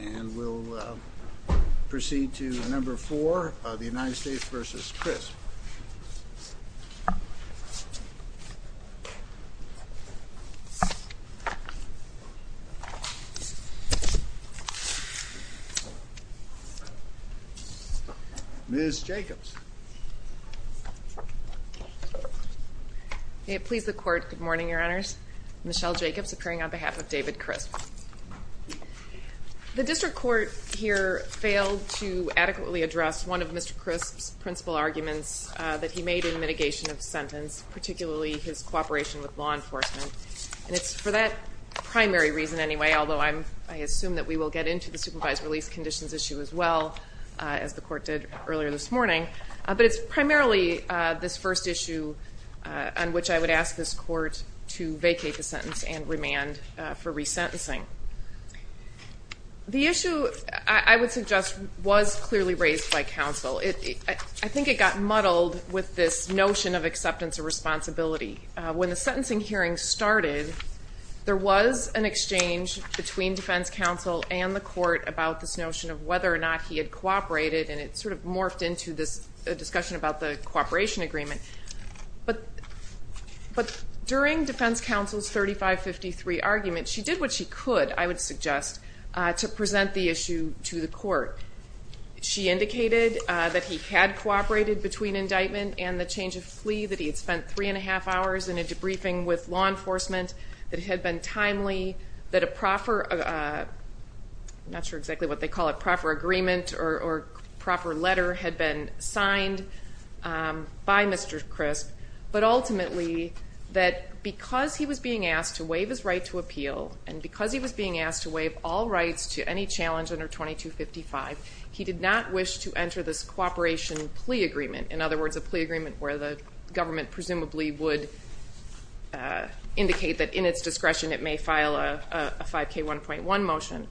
And we'll proceed to number four, the United States v. Crisp. Ms. Jacobs. May it please the Court, good morning, Your Honors. Michelle Jacobs appearing on behalf of David Crisp. The District Court here failed to adequately address one of Mr. Crisp's principal arguments that he made in mitigation of the sentence, particularly his cooperation with law enforcement. And it's for that primary reason anyway, although I assume that we will get into the supervised release conditions issue as well, as the Court did earlier this morning. But it's primarily this first issue on which I would ask this Court to vacate the sentence and remand for resentencing. The issue, I would suggest, was clearly raised by counsel. I think it got muddled with this notion of acceptance of responsibility. When the sentencing hearing started, there was an exchange between defense counsel and the Court about this notion of whether or not he had cooperated, and it sort of morphed into this discussion about the cooperation agreement. But during defense counsel's 3553 argument, she did what she could, I would suggest, to present the issue to the Court. She indicated that he had cooperated between indictment and the change of plea, that he had spent three and a half hours in a debriefing with law enforcement, that it had been timely, that a proper, I'm not sure exactly what they call it, proper agreement or proper letter had been signed by Mr. Crisp, but ultimately that because he was being asked to waive his right to appeal, and because he was being asked to waive all rights to any challenge under 2255, he did not wish to enter this cooperation plea agreement. In other words, a plea agreement where the government presumably would indicate that in its discretion it may file a 5K1.1 motion.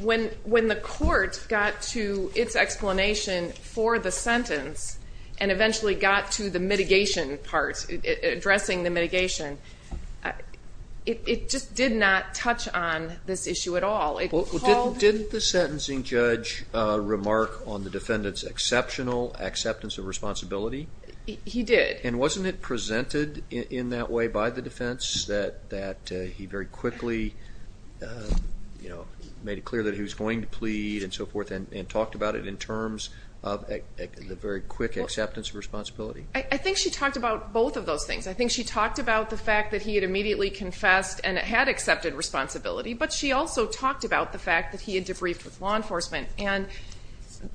When the Court got to its explanation for the sentence and eventually got to the mitigation part, addressing the mitigation, it just did not touch on this issue at all. Well, didn't the sentencing judge remark on the defendant's exceptional acceptance of responsibility? He did. And wasn't it presented in that way by the defense, that he very quickly made it clear that he was going to plead and so forth and talked about it in terms of the very quick acceptance of responsibility? I think she talked about both of those things. I think she talked about the fact that he had immediately confessed and had accepted responsibility, but she also talked about the fact that he had debriefed with law enforcement. And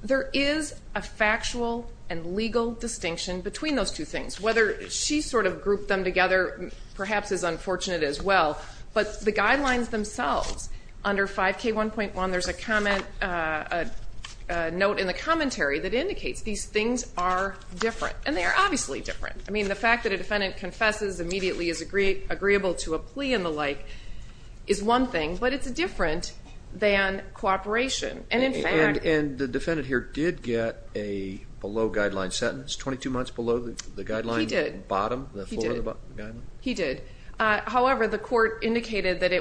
there is a factual and legal distinction between those two things. Whether she sort of grouped them together perhaps is unfortunate as well, but the guidelines themselves under 5K1.1, there's a note in the commentary that indicates these things are different, and they are obviously different. I mean, the fact that a defendant confesses immediately is agreeable to a plea and the like is one thing, but it's different than cooperation. And the defendant here did get a below-guideline sentence, 22 months below the guideline bottom? He did. He did. However, the court indicated that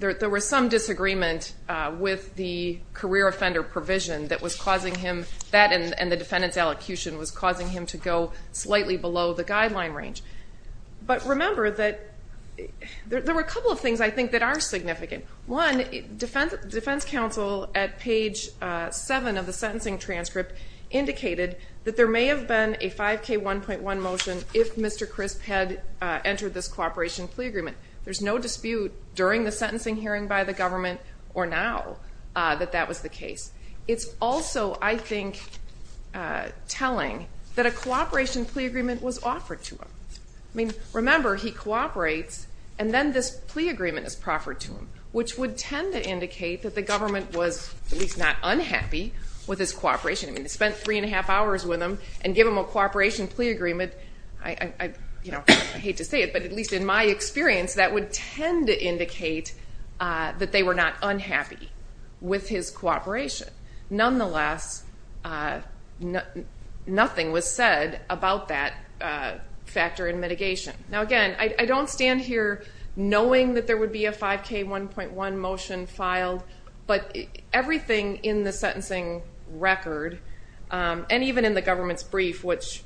there was some disagreement with the career offender provision that was causing him that and the defendant's elocution was causing him to go slightly below the guideline range. But remember that there were a couple of things I think that are significant. One, defense counsel at page 7 of the sentencing transcript indicated that there may have been a 5K1.1 motion if Mr. Crisp had entered this cooperation plea agreement. There's no dispute during the sentencing hearing by the government or now that that was the case. It's also, I think, telling that a cooperation plea agreement was offered to him. I mean, remember, he cooperates and then this plea agreement is proffered to him, which would tend to indicate that the government was at least not unhappy with his cooperation. I mean, they spent three and a half hours with him and gave him a cooperation plea agreement. I hate to say it, but at least in my experience, that would tend to indicate that they were not unhappy with his cooperation. Nonetheless, nothing was said about that factor in mitigation. Now, again, I don't stand here knowing that there would be a 5K1.1 motion filed, but everything in the sentencing record and even in the government's brief, which,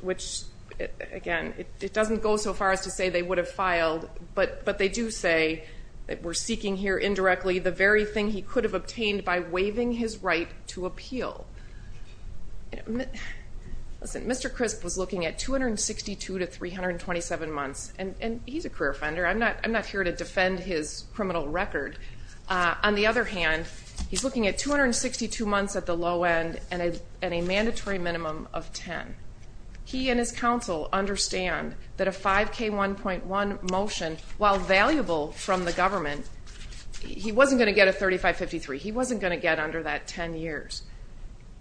again, it doesn't go so far as to say they would have filed, but they do say that we're seeking here indirectly the very thing he could have obtained by waiving his right to appeal. Listen, Mr. Crisp was looking at 262 to 327 months, and he's a career offender. I'm not here to defend his criminal record. On the other hand, he's looking at 262 months at the low end and a mandatory minimum of 10. He and his counsel understand that a 5K1.1 motion, while valuable from the government, he wasn't going to get a 3553. He wasn't going to get under that 10 years.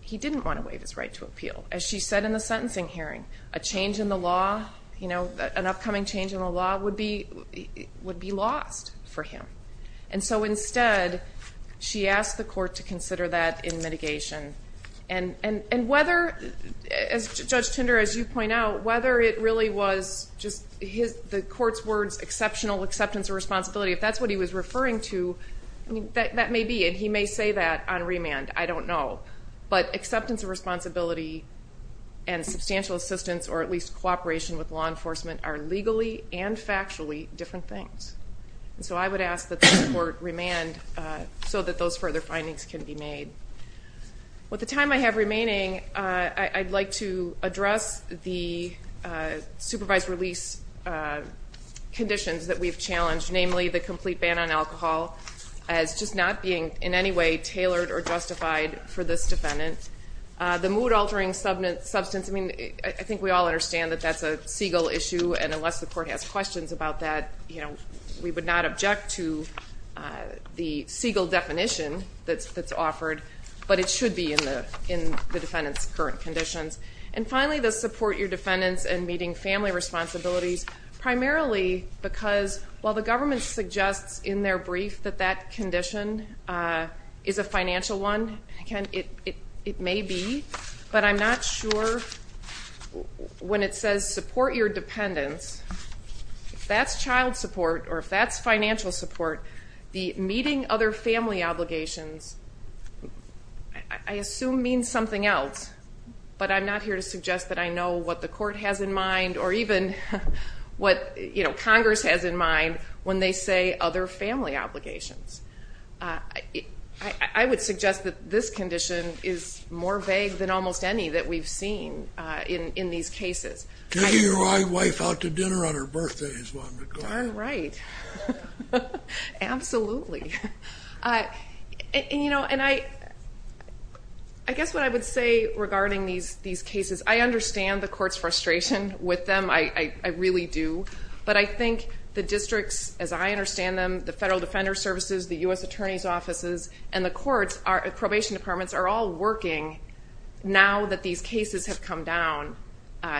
He didn't want to waive his right to appeal. As she said in the sentencing hearing, a change in the law, an upcoming change in the law would be lost for him. And so instead, she asked the court to consider that in mitigation. And whether, as Judge Tinder, as you point out, whether it really was just the court's words, exceptional acceptance of responsibility, if that's what he was referring to, that may be. And he may say that on remand. I don't know. But acceptance of responsibility and substantial assistance or at least cooperation with law enforcement are legally and factually different things. And so I would ask that the court remand so that those further findings can be made. With the time I have remaining, I'd like to address the supervised release conditions that we've challenged, namely the complete ban on alcohol as just not being in any way tailored or justified for this defendant. The mood-altering substance, I mean, I think we all understand that that's a segal issue, and unless the court has questions about that, we would not object to the segal definition that's offered. But it should be in the defendant's current conditions. And finally, the support your defendants in meeting family responsibilities, primarily because while the government suggests in their brief that that condition is a financial one, it may be, but I'm not sure when it says support your dependents, if that's child support or if that's financial support, the meeting other family obligations I assume means something else, but I'm not here to suggest that I know what the court has in mind or even what Congress has in mind when they say other family obligations. I would suggest that this condition is more vague than almost any that we've seen in these cases. Taking your wife out to dinner on her birthday is one regard. Darn right. Absolutely. And, you know, I guess what I would say regarding these cases, I understand the court's frustration with them. I really do. But I think the districts, as I understand them, the Federal Defender Services, the U.S. Attorney's Offices, and the courts, probation departments are all working now that these cases have come down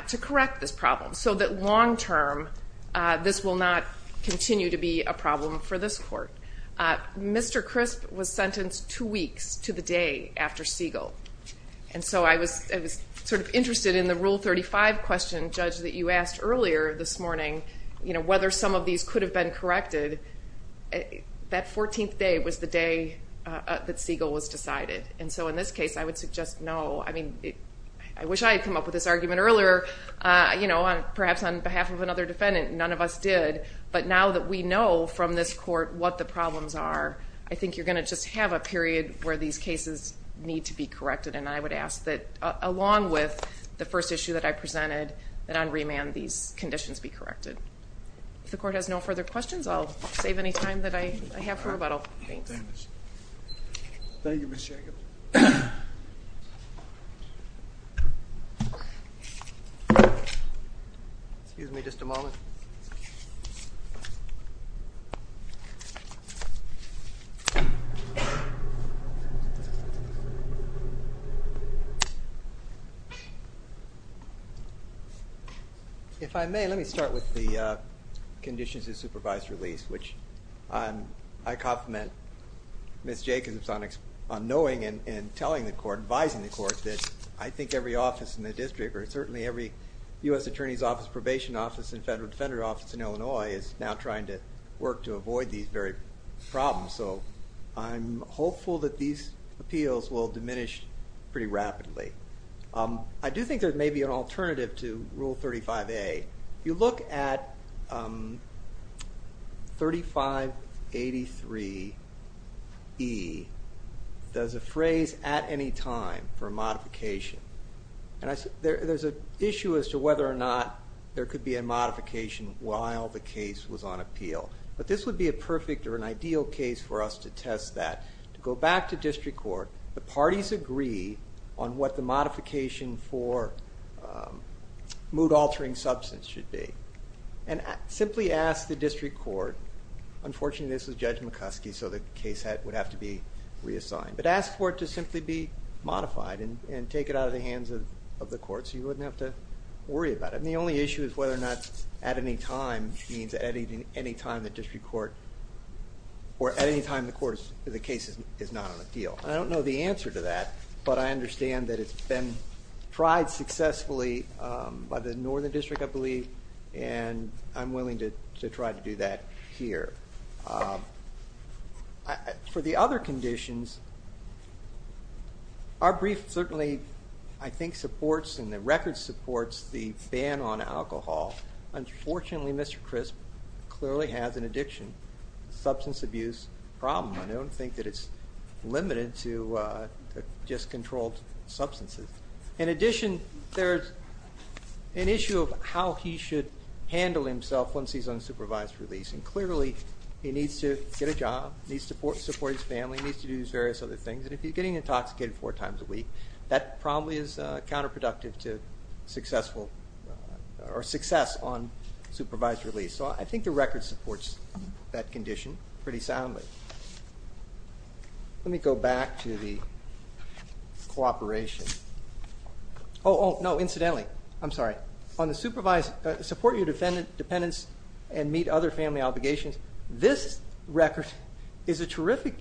to correct this problem so that long term this will not continue to be a problem for this court. Mr. Crisp was sentenced two weeks to the day after segal. And so I was sort of interested in the Rule 35 question, Judge, that you asked earlier this morning, whether some of these could have been corrected. That 14th day was the day that segal was decided. And so in this case, I would suggest no. I mean, I wish I had come up with this argument earlier, perhaps on behalf of another defendant. None of us did. But now that we know from this court what the problems are, I think you're going to just have a period where these cases need to be corrected. And I would ask that, along with the first issue that I presented, that on remand these conditions be corrected. If the court has no further questions, I'll save any time that I have for rebuttal. Thanks. Thank you, Ms. Jacobs. Excuse me just a moment. If I may, let me start with the conditions of supervised release, which I compliment Ms. Jacobs on knowing and telling the court, advising the court, that I think every office in the district, or certainly every U.S. attorney's office, probation office, and federal defender office in Illinois is now trying to work to avoid these very problems. So I'm hopeful that these appeals will diminish pretty rapidly. I do think there may be an alternative to Rule 35A. If you look at 3583E, there's a phrase, at any time, for a modification. And there's an issue as to whether or not there could be a modification while the case was on appeal. But this would be a perfect or an ideal case for us to test that. To go back to district court, the parties agree on what the modification for mood-altering substance should be. And simply ask the district court. Unfortunately, this was Judge McCoskey, so the case would have to be reassigned. But ask for it to simply be modified and take it out of the hands of the court so you wouldn't have to worry about it. The only issue is whether or not, at any time, the case is not on appeal. I don't know the answer to that, but I understand that it's been tried successfully by the Northern District, I believe, and I'm willing to try to do that here. For the other conditions, our brief certainly, I think, supports and the record supports the ban on alcohol. Unfortunately, Mr. Crisp clearly has an addiction substance abuse problem. I don't think that it's limited to just controlled substances. In addition, there's an issue of how he should handle himself once he's on supervised release. And clearly, he needs to get a job, needs to support his family, needs to do his various other things. And if he's getting intoxicated four times a week, that probably is counterproductive to success on supervised release. So I think the record supports that condition pretty soundly. Let me go back to the cooperation. Oh, no, incidentally, I'm sorry. On the support your dependents and meet other family obligations, this record is a terrific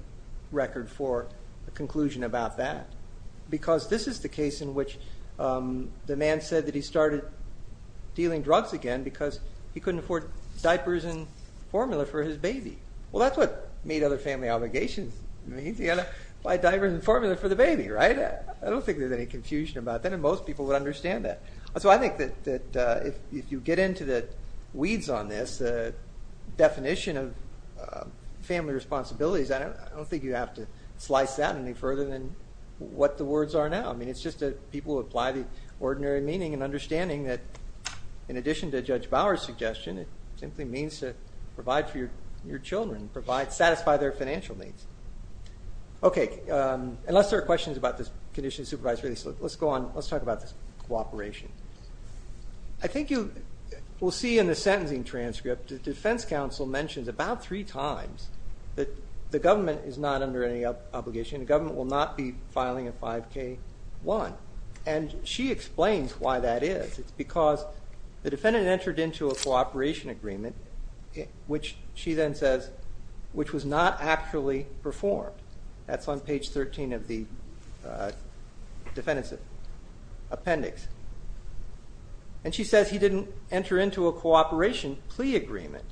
record for a conclusion about that. Because this is the case in which the man said that he started dealing drugs again because he couldn't afford diapers and formula for his baby. Well, that's what meet other family obligations means. He had to buy diapers and formula for the baby, right? I don't think there's any confusion about that, and most people would understand that. So I think that if you get into the weeds on this definition of family responsibilities, I don't think you have to slice that any further than what the words are now. I mean, it's just that people apply the ordinary meaning and understanding that, in addition to Judge Bower's suggestion, it simply means to provide for your children, satisfy their financial needs. Okay, unless there are questions about this condition of supervisory, let's go on. Let's talk about this cooperation. I think you will see in the sentencing transcript, the defense counsel mentions about three times that the government is not under any obligation. The government will not be filing a 5K1. And she explains why that is. It's because the defendant entered into a cooperation agreement, which she then says, which was not actually performed. That's on page 13 of the defendant's appendix. And she says he didn't enter into a cooperation plea agreement.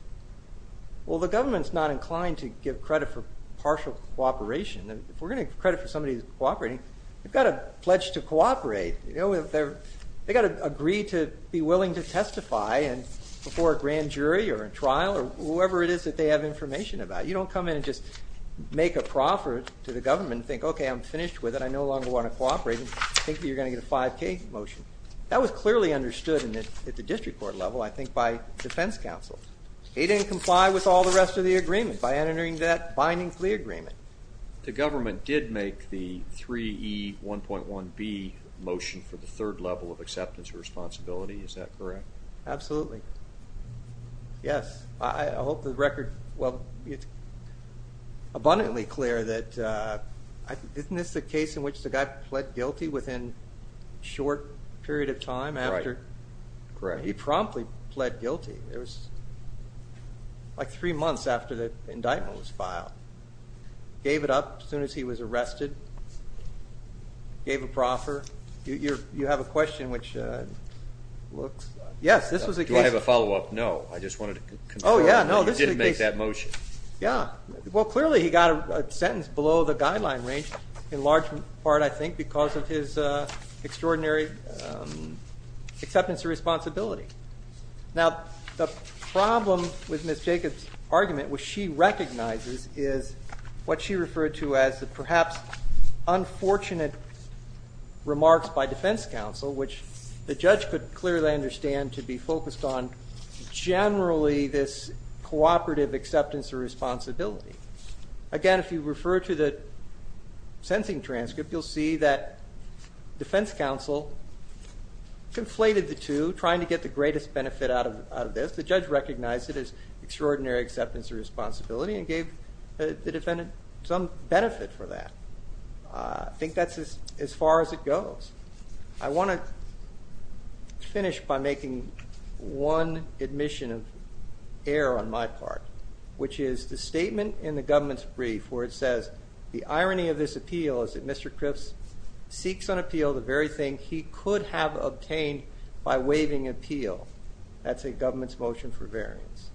Well, the government's not inclined to give credit for partial cooperation. If we're going to give credit for somebody cooperating, you've got to pledge to cooperate. They've got to agree to be willing to testify before a grand jury or a trial or whoever it is that they have information about. You don't come in and just make a proffer to the government and think, okay, I'm finished with it. I no longer want to cooperate. I think you're going to get a 5K motion. That was clearly understood at the district court level, I think, by defense counsel. They didn't comply with all the rest of the agreement by entering that binding plea agreement. The government did make the 3E1.1B motion for the third level of acceptance of responsibility. Is that correct? Absolutely. Yes. I hope the record, well, it's abundantly clear that isn't this the case in which the guy pled guilty within a short period of time? Correct. He promptly pled guilty. It was like three months after the indictment was filed. Gave it up as soon as he was arrested. Gave a proffer. You have a question which looks Do I have a follow-up? No, I just wanted to confirm that you didn't make that motion. Yeah. Well, clearly he got a sentence below the guideline range in large part, I think, because of his extraordinary acceptance of responsibility. Now, the problem with Ms. Jacobs' argument, which she recognizes, is what she referred to as perhaps unfortunate remarks by defense counsel, which the judge could clearly understand to be focused on generally this cooperative acceptance of responsibility. Again, if you refer to the sentencing transcript, you'll see that defense counsel conflated the two, trying to get the greatest benefit out of this. The judge recognized it as extraordinary acceptance of responsibility and gave the defendant some benefit for that. I think that's as far as it goes. I want to finish by making one admission of error on my part, which is the statement in the government's brief where it says, the irony of this appeal is that Mr. Cripps seeks on appeal the very thing he could have obtained by waiving appeal. That's a government's motion for variance.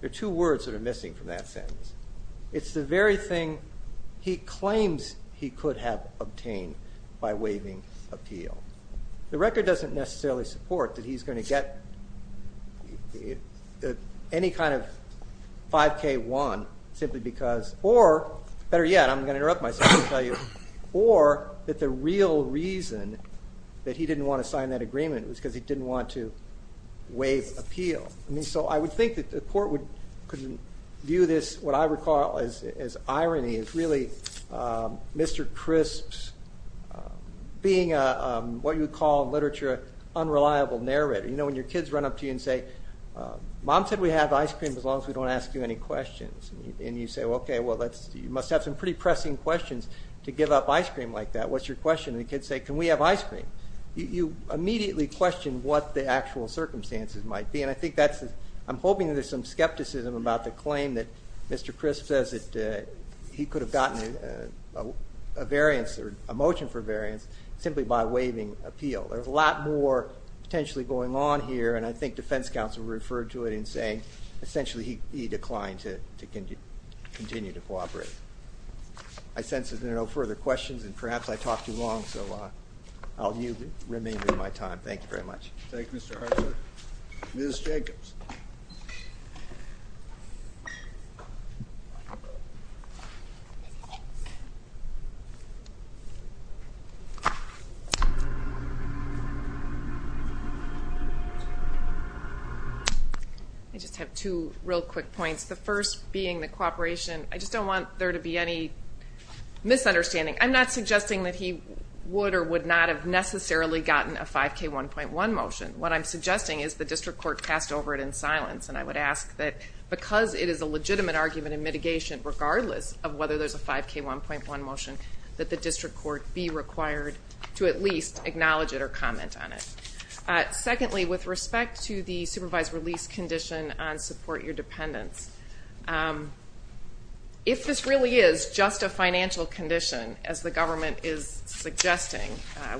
There are two words that are missing from that sentence. It's the very thing he claims he could have obtained by waiving appeal. The record doesn't necessarily support that he's going to get any kind of 5K1 simply because, or, better yet, I'm going to interrupt myself and tell you, or that the real reason that he didn't want to sign that agreement was because he didn't want to waive appeal. I would think that the court would view this, what I recall as irony, as really Mr. Cripps being what you would call in literature an unreliable narrator. You know, when your kids run up to you and say, Mom said we have ice cream as long as we don't ask you any questions. And you say, okay, well, you must have some pretty pressing questions to give up ice cream like that. What's your question? And the kids say, can we have ice cream? You immediately question what the actual circumstances might be, and I think that's the, I'm hoping there's some skepticism about the claim that Mr. Cripps says that he could have gotten a variance or a motion for variance simply by waiving appeal. There's a lot more potentially going on here, and I think defense counsel referred to it in saying essentially he declined to continue to cooperate. I sense there are no further questions, and perhaps I talked too long, so I'll remain with my time. Thank you very much. Thank you, Mr. Hartford. Ms. Jacobs. I just have two real quick points. The first being the cooperation. I just don't want there to be any misunderstanding. I'm not suggesting that he would or would not have necessarily gotten a 5K1.1 motion. What I'm suggesting is the district court passed over it in silence, and I would ask that because it is a legitimate argument in mitigation, regardless of whether there's a 5K1.1 motion, that the district court be required to at least acknowledge it or comment on it. Secondly, with respect to the supervised release condition on support your dependents, if this really is just a financial condition, as the government is suggesting,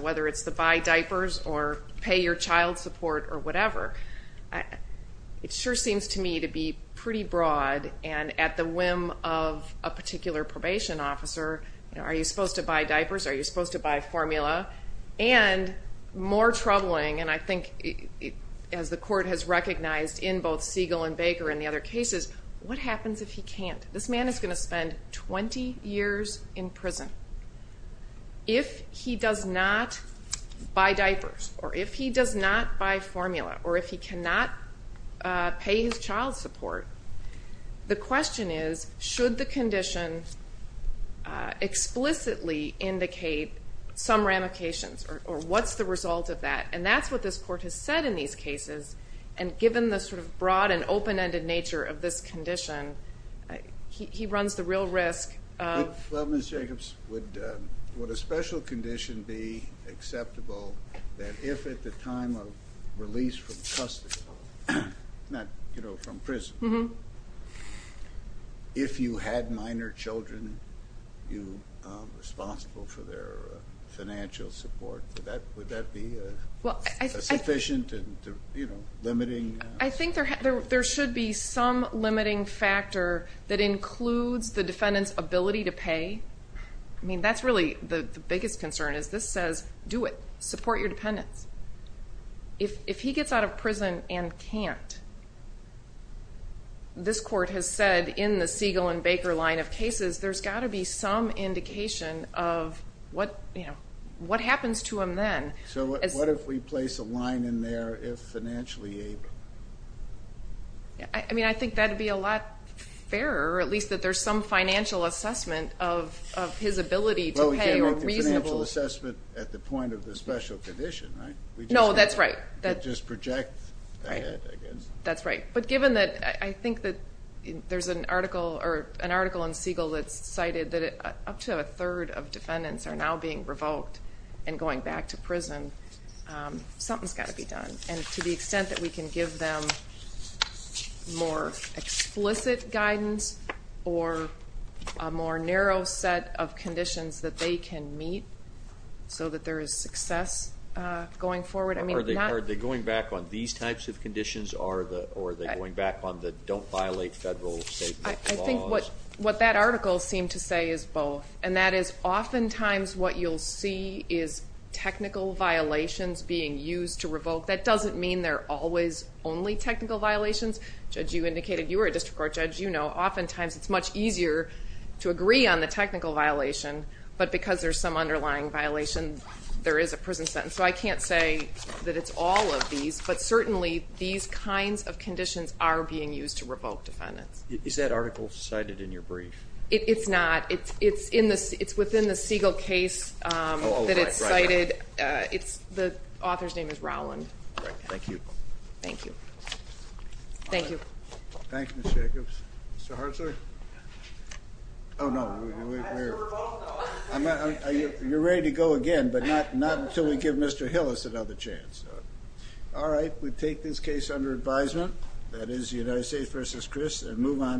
whether it's the buy diapers or pay your child support or whatever, it sure seems to me to be pretty broad and at the whim of a particular probation officer. Are you supposed to buy diapers? Are you supposed to buy formula? And more troubling, and I think as the court has recognized in both Siegel and Baker and the other cases, what happens if he can't? This man is going to spend 20 years in prison. If he does not buy diapers or if he does not buy formula or if he cannot pay his child support, the question is should the condition explicitly indicate some ramifications or what's the result of that? And that's what this court has said in these cases, and given the sort of broad and open-ended nature of this condition, he runs the real risk. Well, Ms. Jacobs, would a special condition be acceptable that if at the time of release from custody, not, you know, from prison, if you had minor children responsible for their financial support, would that be sufficient and, you know, limiting? I think there should be some limiting factor that includes the defendant's ability to pay. I mean, that's really the biggest concern is this says, do it, support your dependents. If he gets out of prison and can't, there's got to be some indication of what happens to him then. So what if we place a line in there if financially able? I mean, I think that would be a lot fairer, at least that there's some financial assessment of his ability to pay. Well, again, with the financial assessment at the point of the special condition, right? No, that's right. It just projects ahead, I guess. That's right. But given that I think that there's an article in Siegel that's cited that up to a third of defendants are now being revoked and going back to prison, something's got to be done. And to the extent that we can give them more explicit guidance or a more narrow set of conditions that they can meet so that there is success going forward. Are they going back on these types of conditions or are they going back on the don't violate federal state laws? I think what that article seemed to say is both, and that is oftentimes what you'll see is technical violations being used to revoke. That doesn't mean they're always only technical violations. Judge, you indicated you were a district court judge. You know oftentimes it's much easier to agree on the technical violation, but because there's some underlying violation, there is a prison sentence. So I can't say that it's all of these, but certainly these kinds of conditions are being used to revoke defendants. Is that article cited in your brief? It's not. It's within the Siegel case that it's cited. The author's name is Rowland. Thank you. Thank you. Thank you. Thank you, Ms. Jacobs. Mr. Hartzer? Oh, no. You're ready to go again, but not until we give Mr. Hillis another chance. All right. We take this case under advisement. That is the United States v. Chris and move on.